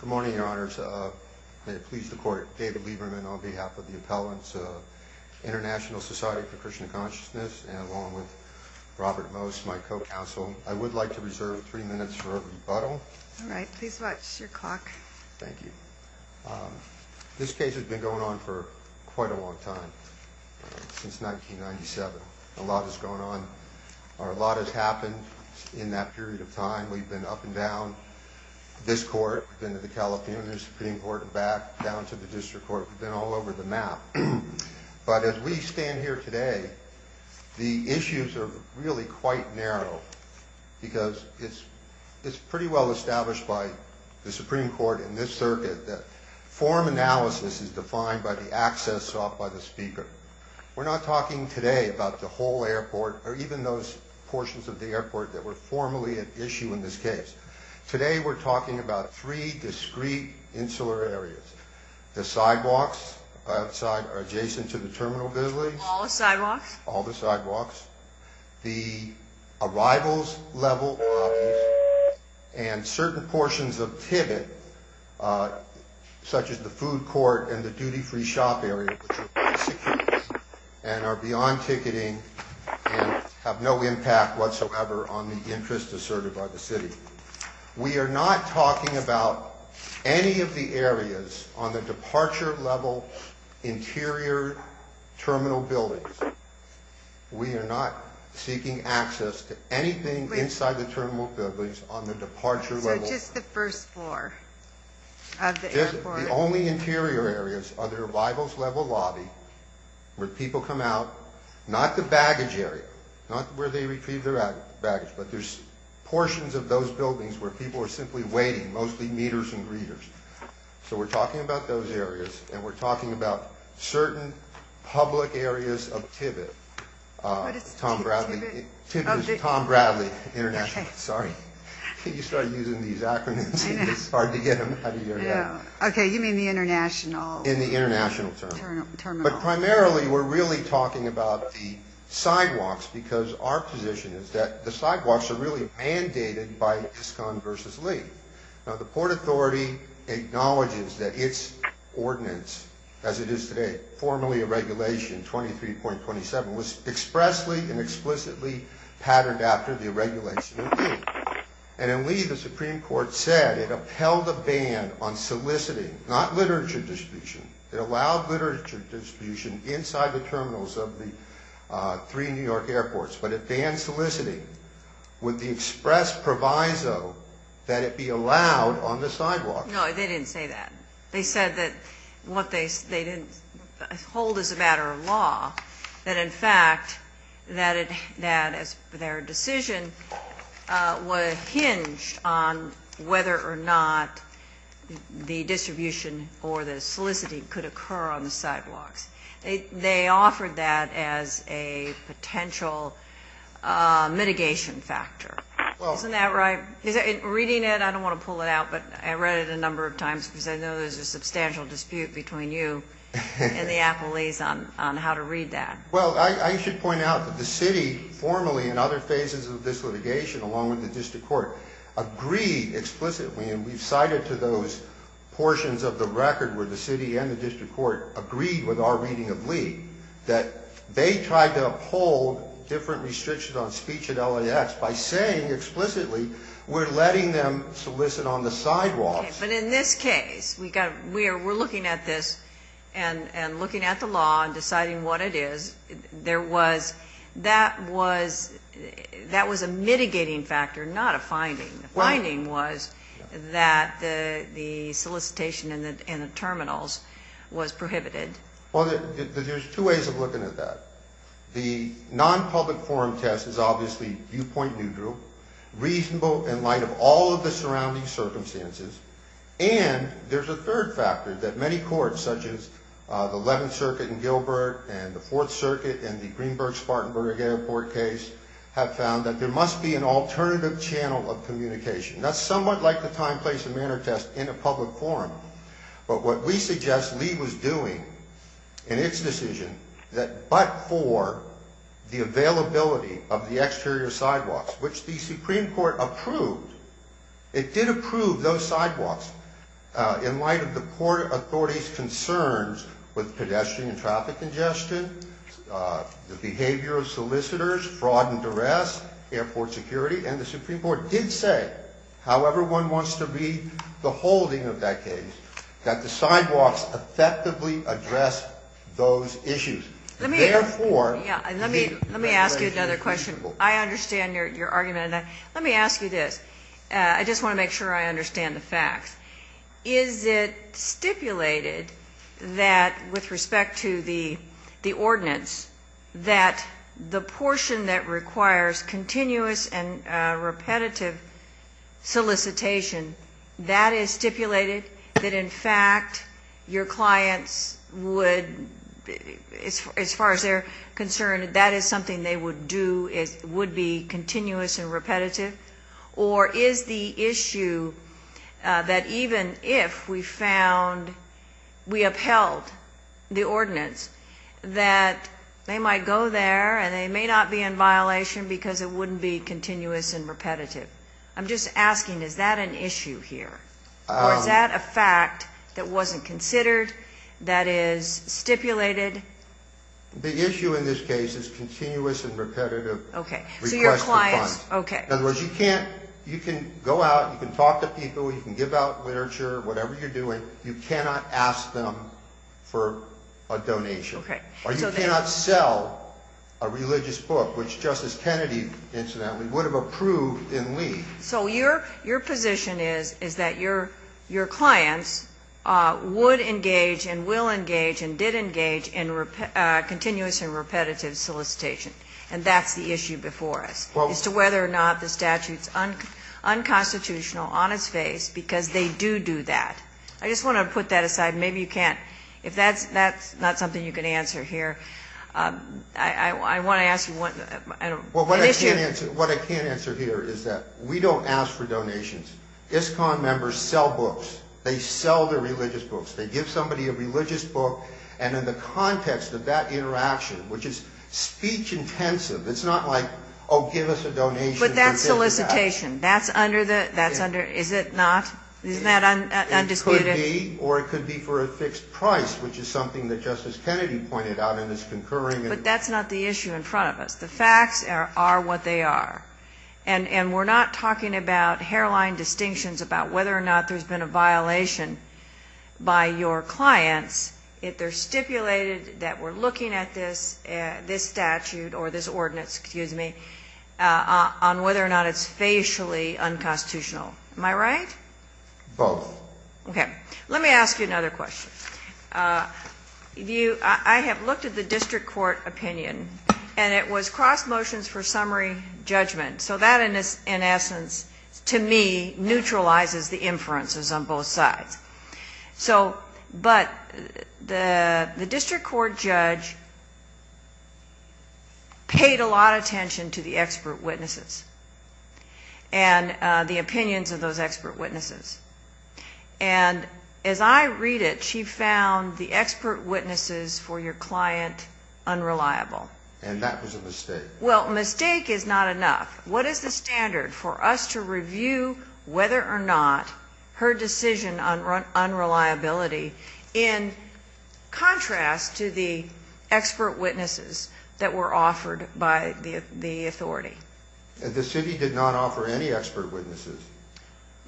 Good morning, Your Honors. May it please the Court, David Lieberman on behalf of the appellants of International Society for Krishna Consciousness, and along with Robert Most, my co-counsel. I would like to reserve three minutes for a rebuttal. All right. Please watch your clock. Thank you. This case has been going on for quite a long time, since 1997. A lot has gone on, or a lot has happened in that period of time. We've been up and down this court, we've been to the California Supreme Court, and back down to the District Court. We've been all over the map. But as we stand here today, the issues are really quite narrow, because it's pretty well established by the Supreme Court in this circuit that form analysis is defined by the access sought by the speaker. We're not talking today about the whole airport, or even those portions of the airport that were formally at issue in this case. Today we're talking about three discrete insular areas. The sidewalks outside are adjacent to the terminal buildings. All the sidewalks? All the sidewalks. The arrivals level lobbies, and certain portions of Tibet, such as the food court and the duty-free shop area, which are quite secure, and are beyond ticketing, and have no impact whatsoever on the interests asserted by the city. We are not talking about any of the areas on the departure level interior terminal buildings. We are not seeking access to anything inside the terminal buildings on the departure level. So just the first floor of the airport? The only interior areas are the arrivals level lobby, where people come out. Not the baggage area, not where they retrieve their baggage, but there's portions of those buildings where people are simply waiting, mostly meters and readers. So we're talking about those areas, and we're talking about certain public areas of Tibet. What is Tibet? Tibet is Tom Bradley International. Okay. Sorry, you started using these acronyms, and it's hard to get them out of your head. Okay, you mean the international? In the international term. Terminal. But primarily we're really talking about the sidewalks, because our position is that the sidewalks are really mandated by ISCON v. Lee. Now, the Port Authority acknowledges that its ordinance, as it is today, formally a regulation, 23.27, was expressly and explicitly patterned after the regulation of Lee. And in Lee, the Supreme Court said it upheld a ban on soliciting, not literature distribution. It allowed literature distribution inside the terminals of the three New York airports. But if banned soliciting, would the express proviso that it be allowed on the sidewalks? No, they didn't say that. They said that what they didn't hold as a matter of law, that in fact that their decision was hinged on whether or not the distribution or the soliciting could occur on the sidewalks. They offered that as a potential mitigation factor. Isn't that right? Reading it, I don't want to pull it out, but I read it a number of times, because I know there's a substantial dispute between you and the appellees on how to read that. Well, I should point out that the city formally in other phases of this litigation, along with the district court, agreed explicitly, and we've cited to those portions of the record where the city and the district court agreed with our reading of Lee, that they tried to uphold different restrictions on speech at LAX by saying explicitly, we're letting them solicit on the sidewalks. But in this case, we're looking at this and looking at the law and deciding what it is. That was a mitigating factor, not a finding. The finding was that the solicitation in the terminals was prohibited. Well, there's two ways of looking at that. The nonpublic forum test is obviously viewpoint neutral, reasonable in light of all of the surrounding circumstances. And there's a third factor that many courts, such as the 11th Circuit in Gilbert and the Fourth Circuit and the Greenberg Spartanburg Airport case, have found that there must be an alternative channel of communication. That's somewhat like the time, place and manner test in a public forum. But what we suggest Lee was doing in its decision, that but for the availability of the exterior sidewalks, which the Supreme Court approved, it did approve those sidewalks in light of the court authority's concerns with pedestrian and traffic congestion, the behavior of solicitors, fraud and duress, airport security. And the Supreme Court did say, however one wants to read the holding of that case, that the sidewalks effectively address those issues. Let me ask you another question. I understand your argument. Let me ask you this. I just want to make sure I understand the facts. Is it stipulated that, with respect to the ordinance, that the portion that requires continuous and repetitive solicitation, that is stipulated, that in fact your clients would, as far as they're concerned, that is something they would do, would be continuous and repetitive? Or is the issue that even if we found, we upheld the ordinance, that they might go there and they may not be in violation because it wouldn't be continuous and repetitive? I'm just asking, is that an issue here? Or is that a fact that wasn't considered, that is stipulated? The issue in this case is continuous and repetitive request for funds. Okay. In other words, you can't, you can go out, you can talk to people, you can give out literature, whatever you're doing, you cannot ask them for a donation. Okay. Or you cannot sell a religious book, which Justice Kennedy, incidentally, would have approved in leave. So your position is, is that your clients would engage and will engage and did engage in continuous and repetitive solicitation. And that's the issue before us. As to whether or not the statute's unconstitutional, on its face, because they do do that. I just want to put that aside. Maybe you can't. If that's not something you can answer here, I want to ask you an issue. What I can answer here is that we don't ask for donations. ISCON members sell books. They sell their religious books. They give somebody a religious book, and in the context of that interaction, which is speech intensive, it's not like, oh, give us a donation. But that's solicitation. That's under the, that's under, is it not? Isn't that undisputed? It could be, or it could be for a fixed price, which is something that Justice Kennedy pointed out in his concurring. But that's not the issue in front of us. The facts are what they are. And we're not talking about hairline distinctions about whether or not there's been a violation by your clients. They're stipulated that we're looking at this statute, or this ordinance, excuse me, on whether or not it's facially unconstitutional. Am I right? Both. Okay. Let me ask you another question. I have looked at the district court opinion, and it was cross motions for summary judgment. So that, in essence, to me, neutralizes the inferences on both sides. So, but the district court judge paid a lot of attention to the expert witnesses and the opinions of those expert witnesses. And as I read it, she found the expert witnesses for your client unreliable. And that was a mistake. Well, mistake is not enough. What is the standard for us to review whether or not her decision on unreliability in contrast to the expert witnesses that were offered by the authority? The city did not offer any expert witnesses.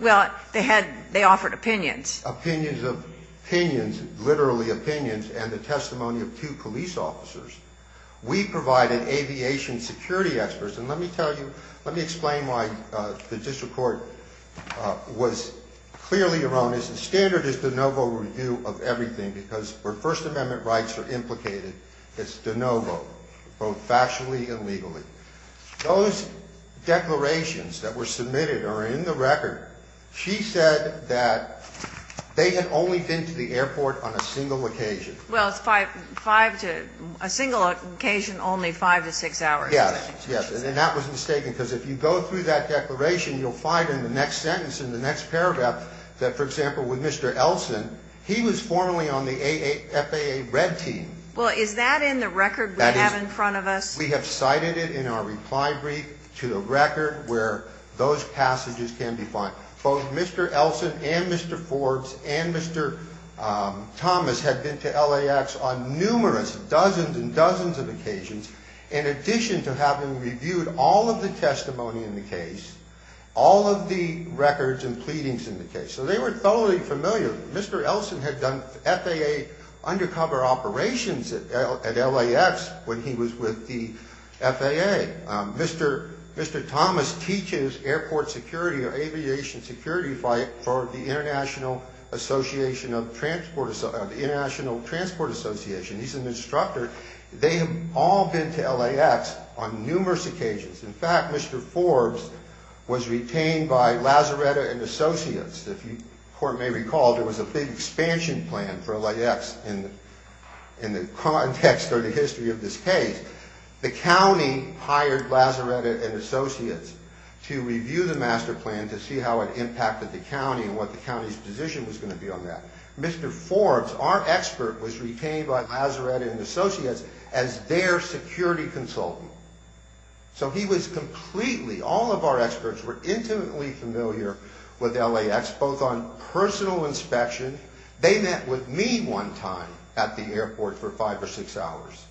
Well, they had, they offered opinions. Opinions of, opinions, literally opinions, and the testimony of two police officers. We provided aviation security experts. And let me tell you, let me explain why the district court was clearly erroneous. The standard is de novo review of everything, because where First Amendment rights are implicated, it's de novo, both factually and legally. Those declarations that were submitted are in the record. She said that they had only been to the airport on a single occasion. Well, it's five, five to, a single occasion, only five to six hours. Yes, yes. And that was mistaken, because if you go through that declaration, you'll find in the next sentence, in the next paragraph, that, for example, with Mr. Elson, he was formerly on the FAA red team. Well, is that in the record we have in front of us? We have cited it in our reply brief to the record where those passages can be found. Both Mr. Elson and Mr. Forbes and Mr. Thomas had been to LAX on numerous, dozens and dozens of occasions, in addition to having reviewed all of the testimony in the case, all of the records and pleadings in the case. So they were thoroughly familiar. Mr. Elson had done FAA undercover operations at LAX when he was with the FAA. Mr. Thomas teaches airport security or aviation security for the International Transport Association. He's an instructor. They have all been to LAX on numerous occasions. In fact, Mr. Forbes was retained by Lazaretta and Associates. If you may recall, there was a big expansion plan for LAX in the context or the history of this case. The county hired Lazaretta and Associates to review the master plan to see how it impacted the county and what the county's position was going to be on that. Mr. Forbes, our expert, was retained by Lazaretta and Associates as their security consultant. So he was completely, all of our experts were intimately familiar with LAX, both on personal inspection. They met with me one time at the airport for five or six hours.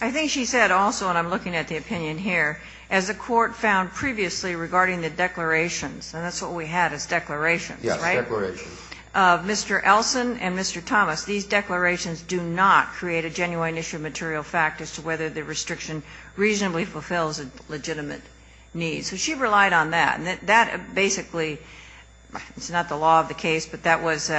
I think she said also, and I'm looking at the opinion here, as the court found previously regarding the declarations, and that's what we had is declarations, right? Yes, declarations. Mr. Elson and Mr. Thomas, these declarations do not create a genuine issue of material fact as to whether the restriction reasonably fulfills a legitimate need. So she relied on that, and that basically, it's not the law of the case, but that was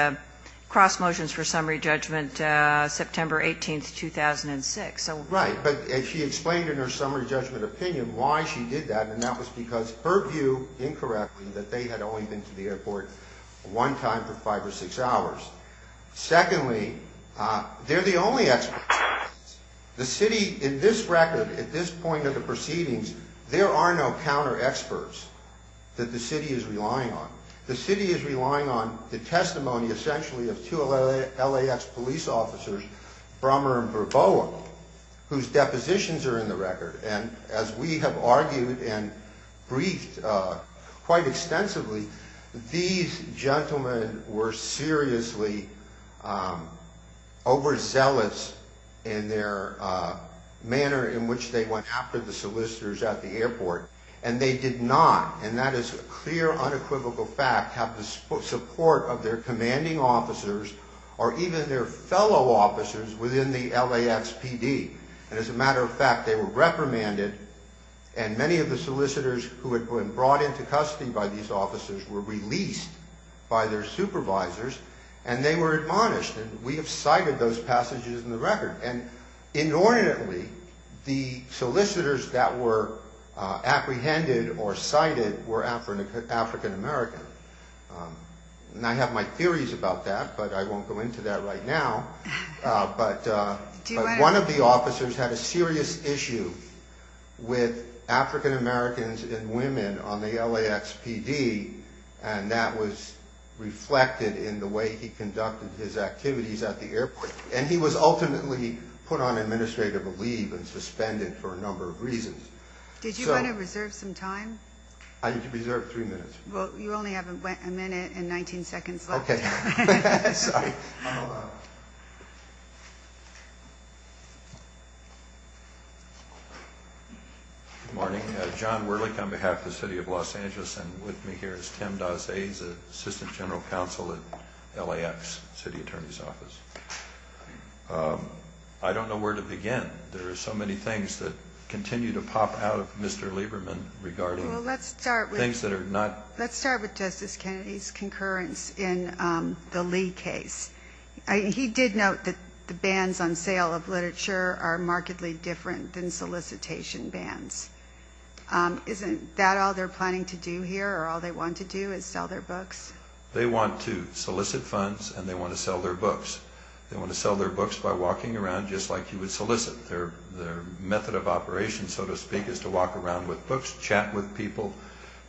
cross motions for summary judgment September 18, 2006. Right, but she explained in her summary judgment opinion why she did that, and that was because her view, incorrectly, that they had only been to the airport one time for five or six hours. Secondly, they're the only experts. The city, in this record, at this point of the proceedings, there are no counter experts that the city is relying on. The city is relying on the testimony, essentially, of two LAX police officers, Brummer and Verboa, whose depositions are in the record. And as we have argued and briefed quite extensively, these gentlemen were seriously overzealous in their manner in which they went after the solicitors at the airport, and they did not, and that is a clear, unequivocal fact, have the support of their commanding officers or even their fellow officers within the LAXPD. And as a matter of fact, they were reprimanded, and many of the solicitors who had been brought into custody by these officers were released by their supervisors, and they were admonished, and we have cited those passages in the record. And inordinately, the solicitors that were apprehended or cited were African American, and I have my theories about that, but I won't go into that right now. But one of the officers had a serious issue with African Americans and women on the LAXPD, and that was reflected in the way he conducted his activities at the airport. And he was ultimately put on administrative leave and suspended for a number of reasons. Did you want to reserve some time? I reserved three minutes. Well, you only have a minute and 19 seconds left. Okay. Sorry. Good morning. John Wuerlick on behalf of the City of Los Angeles, and with me here is Tim Dossais, Assistant General Counsel at LAX, City Attorney's Office. I don't know where to begin. There are so many things that continue to pop out of Mr. Lieberman regarding things that are not... He did note that the bans on sale of literature are markedly different than solicitation bans. Isn't that all they're planning to do here, or all they want to do is sell their books? They want to solicit funds, and they want to sell their books. They want to sell their books by walking around just like you would solicit. Their method of operation, so to speak, is to walk around with books, chat with people,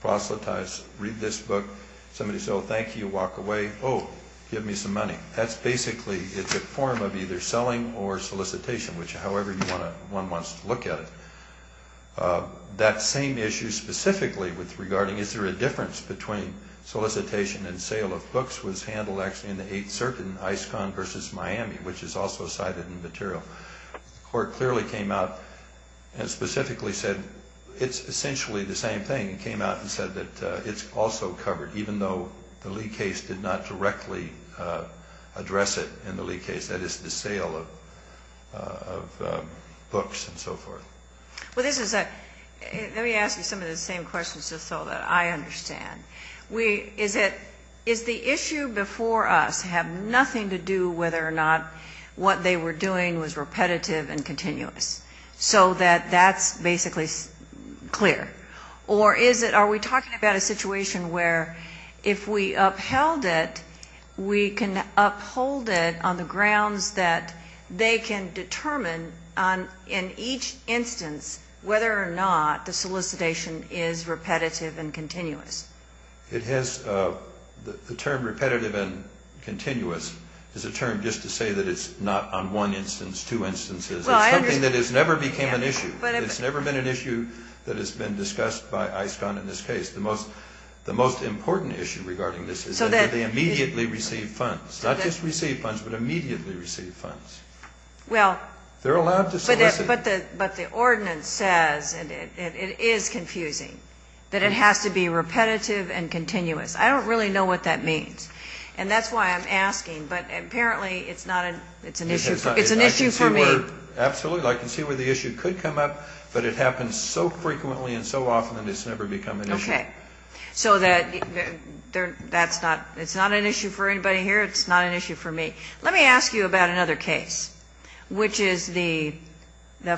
proselytize, read this book. Somebody says, oh, thank you, walk away. Oh, give me some money. That's basically, it's a form of either selling or solicitation, however one wants to look at it. That same issue specifically regarding is there a difference between solicitation and sale of books was handled actually in the Eighth Circuit in Iscon versus Miami, which is also cited in the material. The court clearly came out and specifically said it's essentially the same thing. It came out and said that it's also covered, even though the Lee case did not directly address it in the Lee case. That is the sale of books and so forth. Well, this is a... Let me ask you some of the same questions just so that I understand. Is the issue before us have nothing to do whether or not what they were doing was repetitive and continuous so that that's basically clear? Or are we talking about a situation where if we upheld it, we can uphold it on the grounds that they can determine in each instance whether or not the solicitation is repetitive and continuous? The term repetitive and continuous is a term just to say that it's not on one instance, two instances. It's something that has never became an issue. It's never been an issue that has been discussed by Iscon in this case. The most important issue regarding this is that they immediately receive funds, not just receive funds, but immediately receive funds. They're allowed to solicit. But the ordinance says, and it is confusing, that it has to be repetitive and continuous. I don't really know what that means, and that's why I'm asking. But apparently it's not an issue. It's an issue for me. Absolutely. I can see where the issue could come up, but it happens so frequently and so often that it's never become an issue. Okay. So it's not an issue for anybody here. It's not an issue for me. Let me ask you about another case, which is the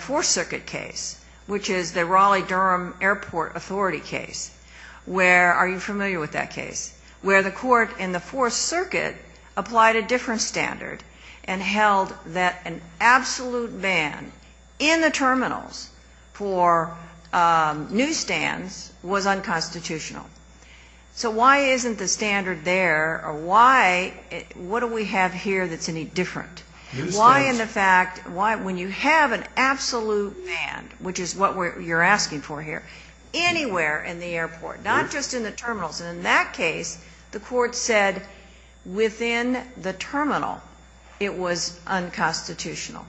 Fourth Circuit case, which is the Raleigh-Durham Airport Authority case, where are you familiar with that case, where the court in the Fourth Circuit applied a different standard and held that an absolute ban in the terminals for newsstands was unconstitutional. So why isn't the standard there, or what do we have here that's any different? Newsstands. Why, in fact, when you have an absolute ban, which is what you're asking for here, anywhere in the airport, not just in the terminals. And in that case, the court said within the terminal it was unconstitutional.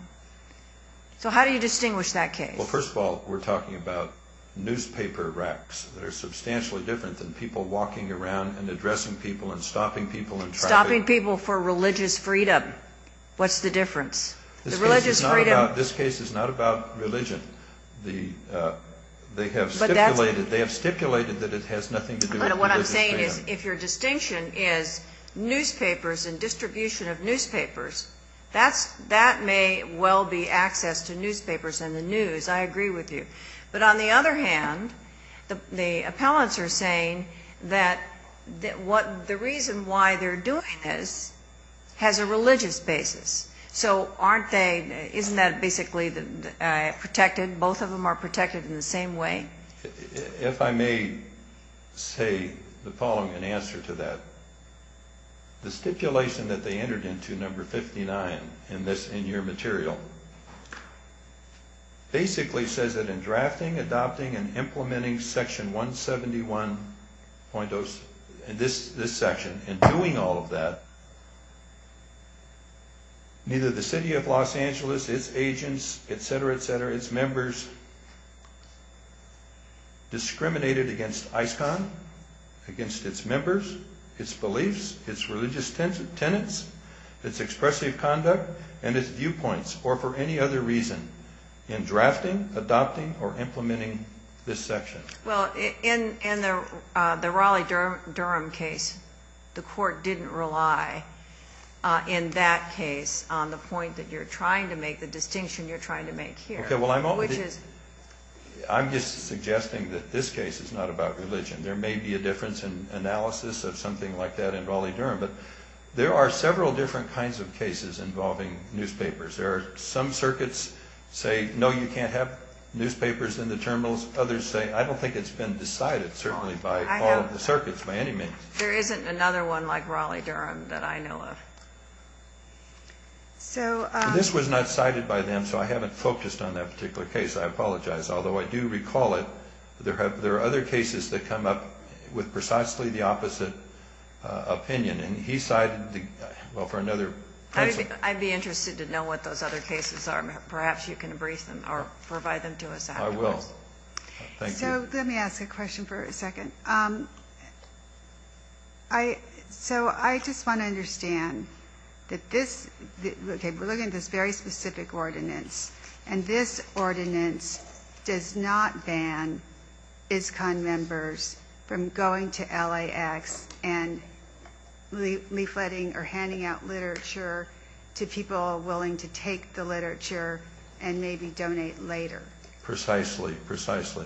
So how do you distinguish that case? Well, first of all, we're talking about newspaper racks that are substantially different than people walking around and addressing people and stopping people in traffic. Stopping people for religious freedom. What's the difference? This case is not about religion. They have stipulated that it has nothing to do with religious freedom. What I'm saying is if your distinction is newspapers and distribution of newspapers, that may well be access to newspapers and the news. I agree with you. But on the other hand, the appellants are saying that the reason why they're doing this has a religious basis. So aren't they, isn't that basically protected, both of them are protected in the same way? If I may say the following in answer to that. The stipulation that they entered into, number 59 in this, in your material, basically says that in drafting, adopting, and implementing section 171.0, this section, and doing all of that, neither the city of Los Angeles, its agents, et cetera, et cetera, its members discriminated against ISCON, against its members, its beliefs, its religious tenets, its expressive conduct, and its viewpoints, or for any other reason, in drafting, adopting, or implementing this section. Well, in the Raleigh-Durham case, the court didn't rely, in that case, on the point that you're trying to make, the distinction you're trying to make here. I'm just suggesting that this case is not about religion. There may be a difference in analysis of something like that in Raleigh-Durham, but there are several different kinds of cases involving newspapers. There are some circuits say, no, you can't have newspapers in the terminals. Others say, I don't think it's been decided, certainly, by all of the circuits, by any means. There isn't another one like Raleigh-Durham that I know of. This was not cited by them, so I haven't focused on that particular case. I apologize. Although I do recall it, there are other cases that come up with precisely the opposite opinion. And he cited, well, for another pencil. I'd be interested to know what those other cases are. Perhaps you can brief them or provide them to us afterwards. I will. Thank you. So let me ask a question for a second. So I just want to understand that this, okay, we're looking at this very specific ordinance, and this ordinance does not ban ISCON members from going to LAX and leafletting or handing out literature to people willing to take the literature and maybe donate later. Precisely, precisely.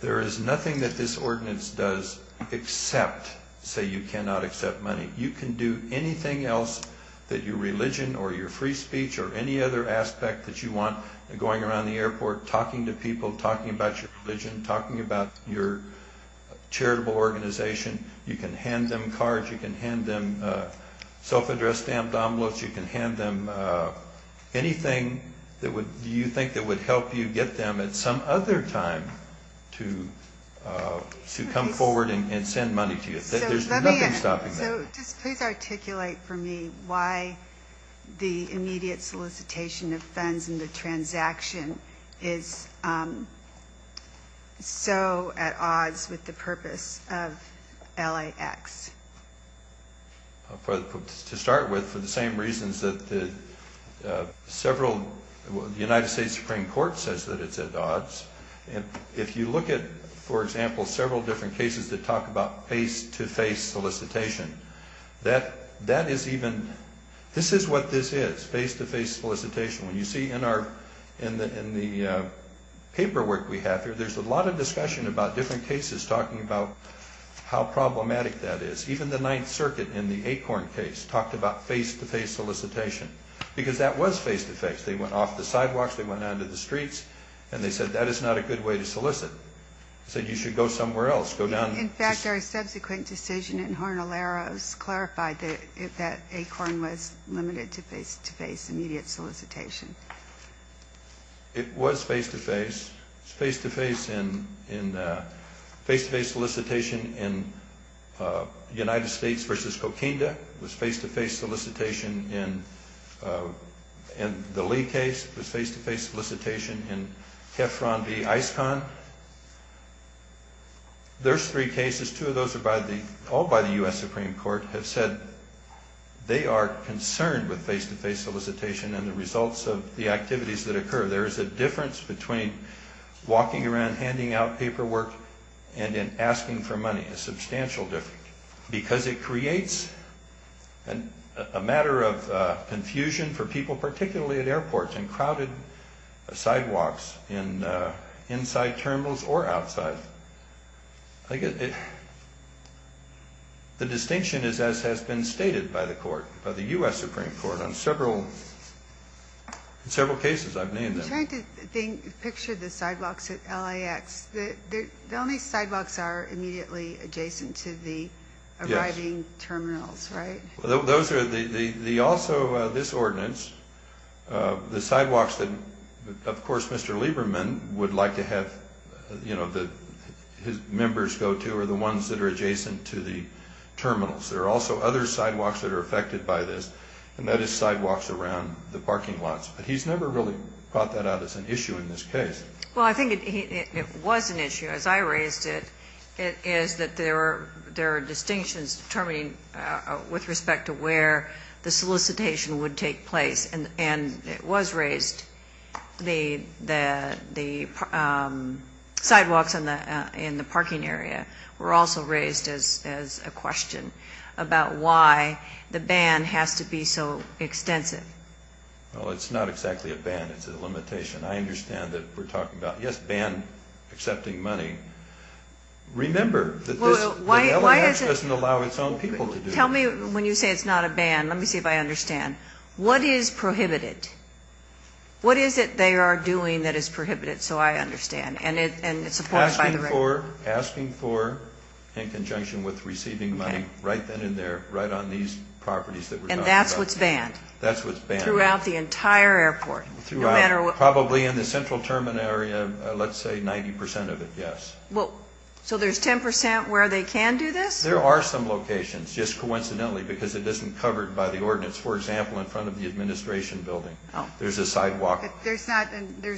There is nothing that this ordinance does except say you cannot accept money. You can do anything else that your religion or your free speech or any other aspect that you want, going around the airport, talking to people, talking about your religion, talking about your charitable organization. You can hand them cards. You can hand them self-addressed stamped envelopes. You can hand them anything that you think that would help you get them at some other time to come forward and send money to you. There's nothing stopping that. So just please articulate for me why the immediate solicitation of funds and the transaction is so at odds with the purpose of LAX. To start with, for the same reasons that the United States Supreme Court says that it's at odds, if you look at, for example, several different cases that talk about face-to-face solicitation, this is what this is, face-to-face solicitation. When you see in the paperwork we have here, there's a lot of discussion about different cases talking about how problematic that is. Even the Ninth Circuit in the Acorn case talked about face-to-face solicitation because that was face-to-face. They went off the sidewalks. They went out into the streets. And they said that is not a good way to solicit. They said you should go somewhere else, go down. In fact, our subsequent decision in Harnaleros clarified that Acorn was limited to face-to-face immediate solicitation. It was face-to-face. It was face-to-face in face-to-face solicitation in United States v. Coquinda. It was face-to-face solicitation in the Lee case. It was face-to-face solicitation in Tefron v. ISCON. Those three cases, two of those are all by the U.S. Supreme Court, have said they are concerned with face-to-face solicitation and the results of the activities that occur. There is a difference between walking around handing out paperwork and in asking for money, a substantial difference, because it creates a matter of confusion for people particularly at airports and crowded sidewalks inside terminals or outside. The distinction is as has been stated by the court, by the U.S. Supreme Court, on several cases I've named them. I'm trying to picture the sidewalks at LAX. The only sidewalks are immediately adjacent to the arriving terminals, right? Yes. Also, this ordinance, the sidewalks that, of course, Mr. Lieberman would like to have his members go to are the ones that are adjacent to the terminals. There are also other sidewalks that are affected by this, and that is sidewalks around the parking lots. But he's never really brought that out as an issue in this case. Well, I think it was an issue. As I raised it, it is that there are distinctions determining with respect to where the solicitation would take place. And it was raised, the sidewalks in the parking area were also raised as a question about why the ban has to be so extensive. Well, it's not exactly a ban. It's a limitation. I understand that we're talking about, yes, ban accepting money. Remember that LAX doesn't allow its own people to do it. Tell me when you say it's not a ban. Let me see if I understand. What is prohibited? What is it they are doing that is prohibited, so I understand? And it's supported by the record. Asking for, in conjunction with receiving money, right then and there, right on these properties that we're talking about. And that's what's banned? That's what's banned. Throughout the entire airport? Throughout. Probably in the central terminal area, let's say 90% of it, yes. So there's 10% where they can do this? There are some locations, just coincidentally, because it isn't covered by the ordinance. For example, in front of the administration building, there's a sidewalk. There's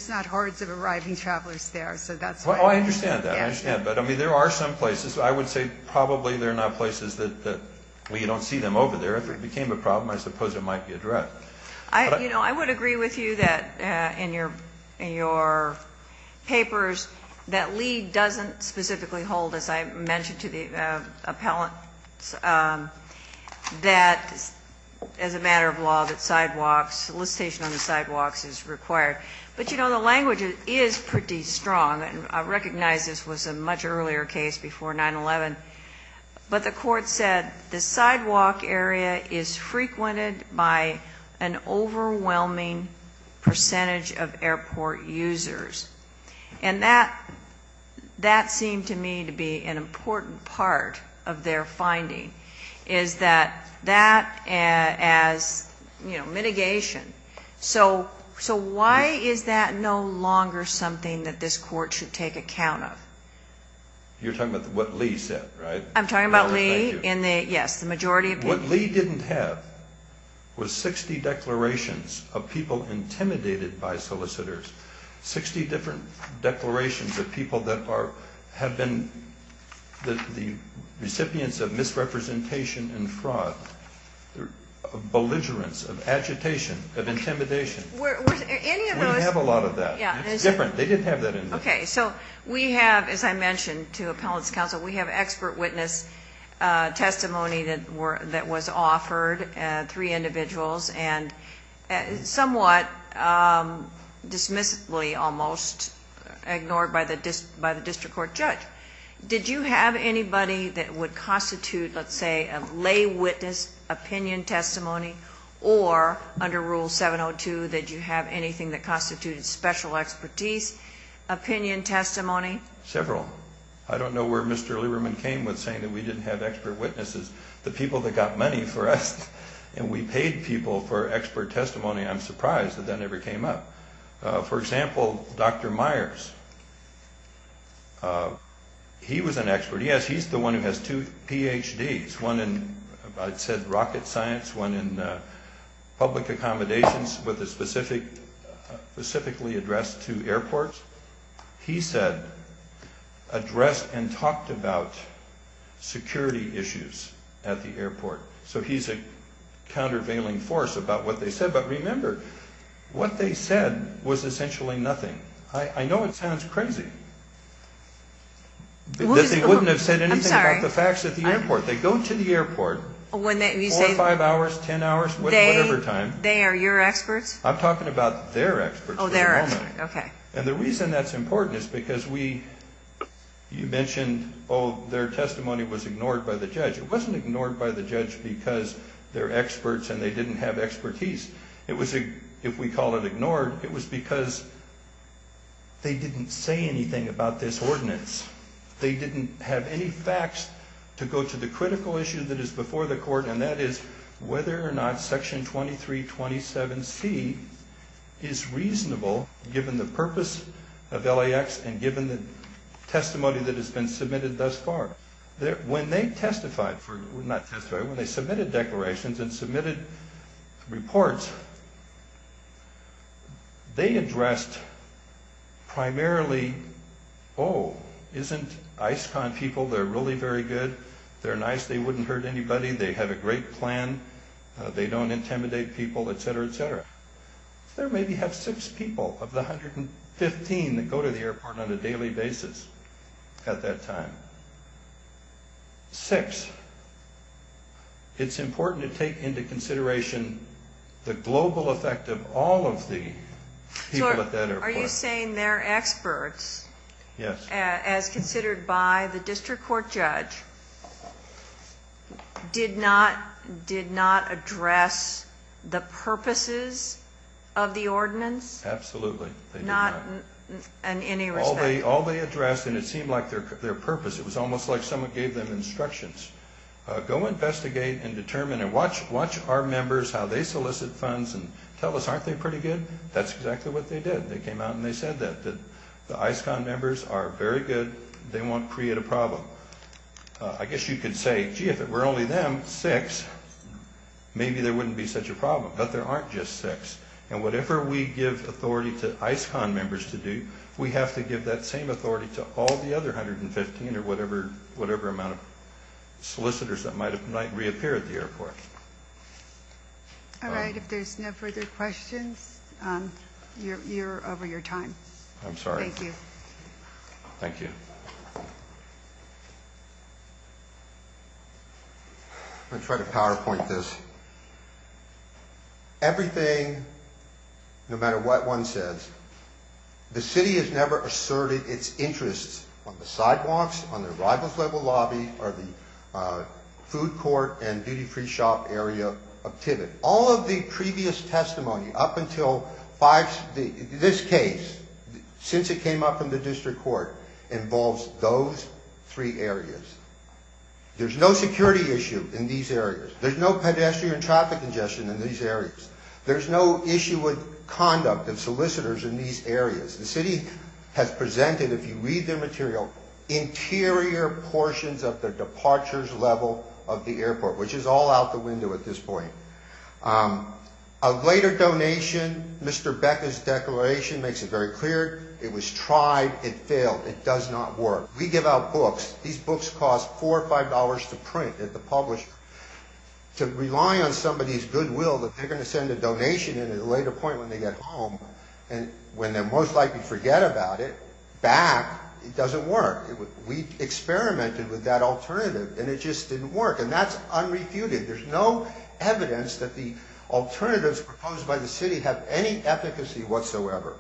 not hordes of arriving travelers there, so that's why. Oh, I understand that. I understand. But, I mean, there are some places. I would say probably they're not places that we don't see them over there. If it became a problem, I suppose it might be addressed. You know, I would agree with you that in your papers that LEAD doesn't specifically hold, as I mentioned to the appellant, that as a matter of law that sidewalks, solicitation on the sidewalks is required. But, you know, the language is pretty strong. I recognize this was a much earlier case before 9-11. But the court said the sidewalk area is frequented by an overwhelming percentage of airport users. And that seemed to me to be an important part of their finding is that that as, you know, mitigation. So why is that no longer something that this court should take account of? You're talking about what LEAD said, right? I'm talking about LEAD in the, yes, the majority of people. What LEAD didn't have was 60 declarations of people intimidated by solicitors, 60 different declarations of people that have been the recipients of misrepresentation and fraud, of belligerence, of agitation, of intimidation. Any of those. We have a lot of that. Yeah. It's different. They didn't have that. Okay. So we have, as I mentioned to appellants counsel, we have expert witness testimony that was offered, three individuals, and somewhat dismissively almost ignored by the district court judge. Did you have anybody that would constitute, let's say, a lay witness opinion testimony? Or under Rule 702, did you have anything that constituted special expertise opinion testimony? Several. I don't know where Mr. Lieberman came with saying that we didn't have expert witnesses. The people that got money for us and we paid people for expert testimony, I'm surprised that that never came up. For example, Dr. Myers, he was an expert. Yes, he's the one who has two PhDs, one in, I said, rocket science, one in public accommodations with a specifically addressed two airports. He said, addressed and talked about security issues at the airport. So he's a countervailing force about what they said. But remember, what they said was essentially nothing. I know it sounds crazy. They wouldn't have said anything about the facts at the airport. They go to the airport four or five hours, ten hours, whatever time. They are your experts? I'm talking about their experts. Oh, their experts. Okay. And the reason that's important is because we, you mentioned, oh, their testimony was ignored by the judge. It wasn't ignored by the judge because they're experts and they didn't have expertise. If we call it ignored, it was because they didn't say anything about this ordinance. They didn't have any facts to go to the critical issue that is before the court, and that is whether or not Section 2327C is reasonable, given the purpose of LAX and given the testimony that has been submitted thus far. When they testified for, not testified, when they submitted declarations and submitted reports, they addressed primarily, oh, isn't ISCON people, they're really very good, they're nice, they wouldn't hurt anybody, they have a great plan, they don't intimidate people, et cetera, et cetera. They maybe have six people of the 115 that go to the airport on a daily basis at that time. Six. It's important to take into consideration the global effect of all of the people at that airport. So are you saying they're experts? Yes. As considered by the district court judge, did not address the purposes of the ordinance? Absolutely. Not in any respect? All they addressed, and it seemed like their purpose, it was almost like someone gave them instructions, go investigate and determine and watch our members, how they solicit funds, and tell us, aren't they pretty good? That's exactly what they did. They came out and they said that the ISCON members are very good. They won't create a problem. I guess you could say, gee, if it were only them, six, maybe there wouldn't be such a problem, but there aren't just six. And whatever we give authority to ISCON members to do, we have to give that same authority to all the other 115 or whatever amount of solicitors that might reappear at the airport. All right. If there's no further questions, you're over your time. I'm sorry. Thank you. Thank you. I'm going to try to PowerPoint this. Everything, no matter what one says, the city has never asserted its interests on the sidewalks, on the arrivals level lobby, or the food court and duty-free shop area of Tivitt. All of the previous testimony up until this case, since it came up in the district court, involves those three areas. There's no security issue in these areas. There's no pedestrian traffic congestion in these areas. There's no issue with conduct of solicitors in these areas. The city has presented, if you read their material, interior portions of the departures level of the airport, which is all out the window at this point. A later donation, Mr. Becker's declaration makes it very clear, it was tried, it failed, it does not work. We give out books. These books cost $4 or $5 to print at the publisher. To rely on somebody's goodwill that they're going to send a donation in at a later point when they get home, when they'll most likely forget about it, back, it doesn't work. We experimented with that alternative, and it just didn't work, and that's unrefuted. There's no evidence that the alternatives proposed by the city have any efficacy whatsoever.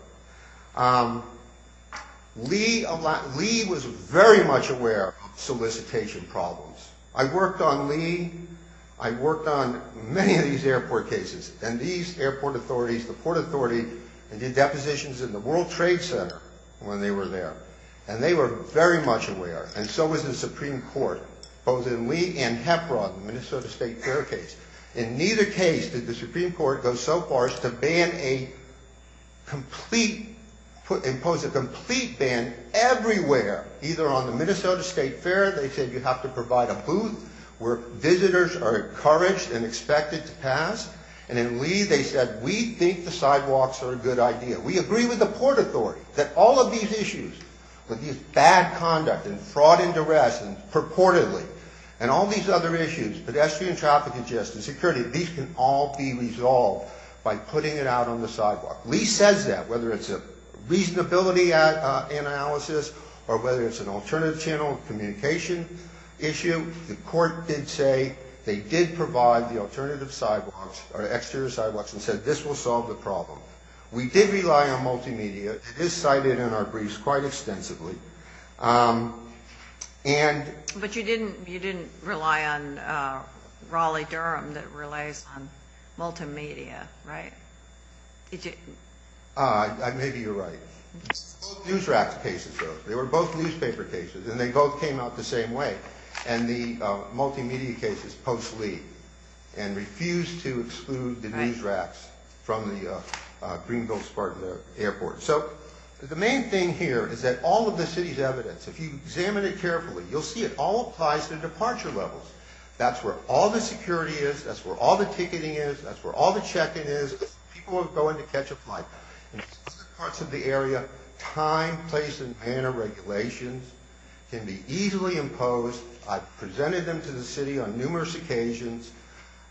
Lee was very much aware of solicitation problems. I worked on Lee. I worked on many of these airport cases, and these airport authorities, the Port Authority, and did depositions in the World Trade Center when they were there, and they were very much aware, and so was the Supreme Court, both in Lee and HEPRA, the Minnesota State Fair case. In neither case did the Supreme Court go so far as to ban a complete, impose a complete ban everywhere, either on the Minnesota State Fair, they said you have to provide a booth where visitors are encouraged and expected to pass, and in Lee they said we think the sidewalks are a good idea. We agree with the Port Authority that all of these issues, with these bad conduct and fraud and duress and purportedly, and all these other issues, pedestrian traffic and justice, security, these can all be resolved by putting it out on the sidewalk. Lee says that, whether it's a reasonability analysis or whether it's an alternative channel communication issue, the court did say they did provide the alternative sidewalks or exterior sidewalks and said this will solve the problem. We did rely on multimedia. It is cited in our briefs quite extensively. But you didn't rely on Raleigh-Durham that relies on multimedia, right? Maybe you're right. Both news rack cases, though. They were both newspaper cases, and they both came out the same way, and the multimedia cases post Lee and refused to exclude the news racks from the Greenville-Spartan Airport. So the main thing here is that all of the city's evidence, if you examine it carefully, you'll see it all applies to departure levels. That's where all the security is. That's where all the ticketing is. That's where all the check-in is. People are going to catch a flight. In certain parts of the area, time, place, and manner of regulations can be easily imposed. I've presented them to the city on numerous occasions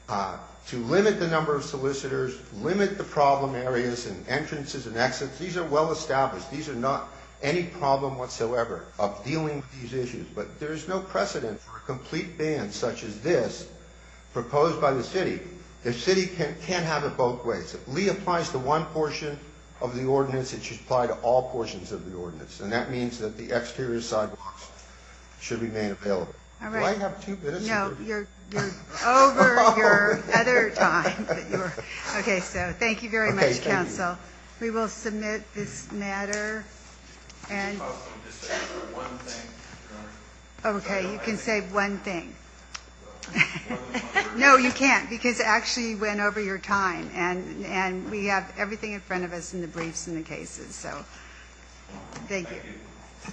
to limit the number of solicitors, limit the problem areas and entrances and exits. These are well established. These are not any problem whatsoever of dealing with these issues. But there is no precedent for a complete ban such as this proposed by the city. The city can't have it both ways. If Lee applies to one portion of the ordinance, it should apply to all portions of the ordinance, and that means that the exterior sidewalks should remain available. Do I have two minutes? No. You're over your other time. Okay. So thank you very much, counsel. We will submit this matter. Okay. You can say one thing. No, you can't, because actually you went over your time, and we have everything in front of us in the briefs and the cases. So thank you.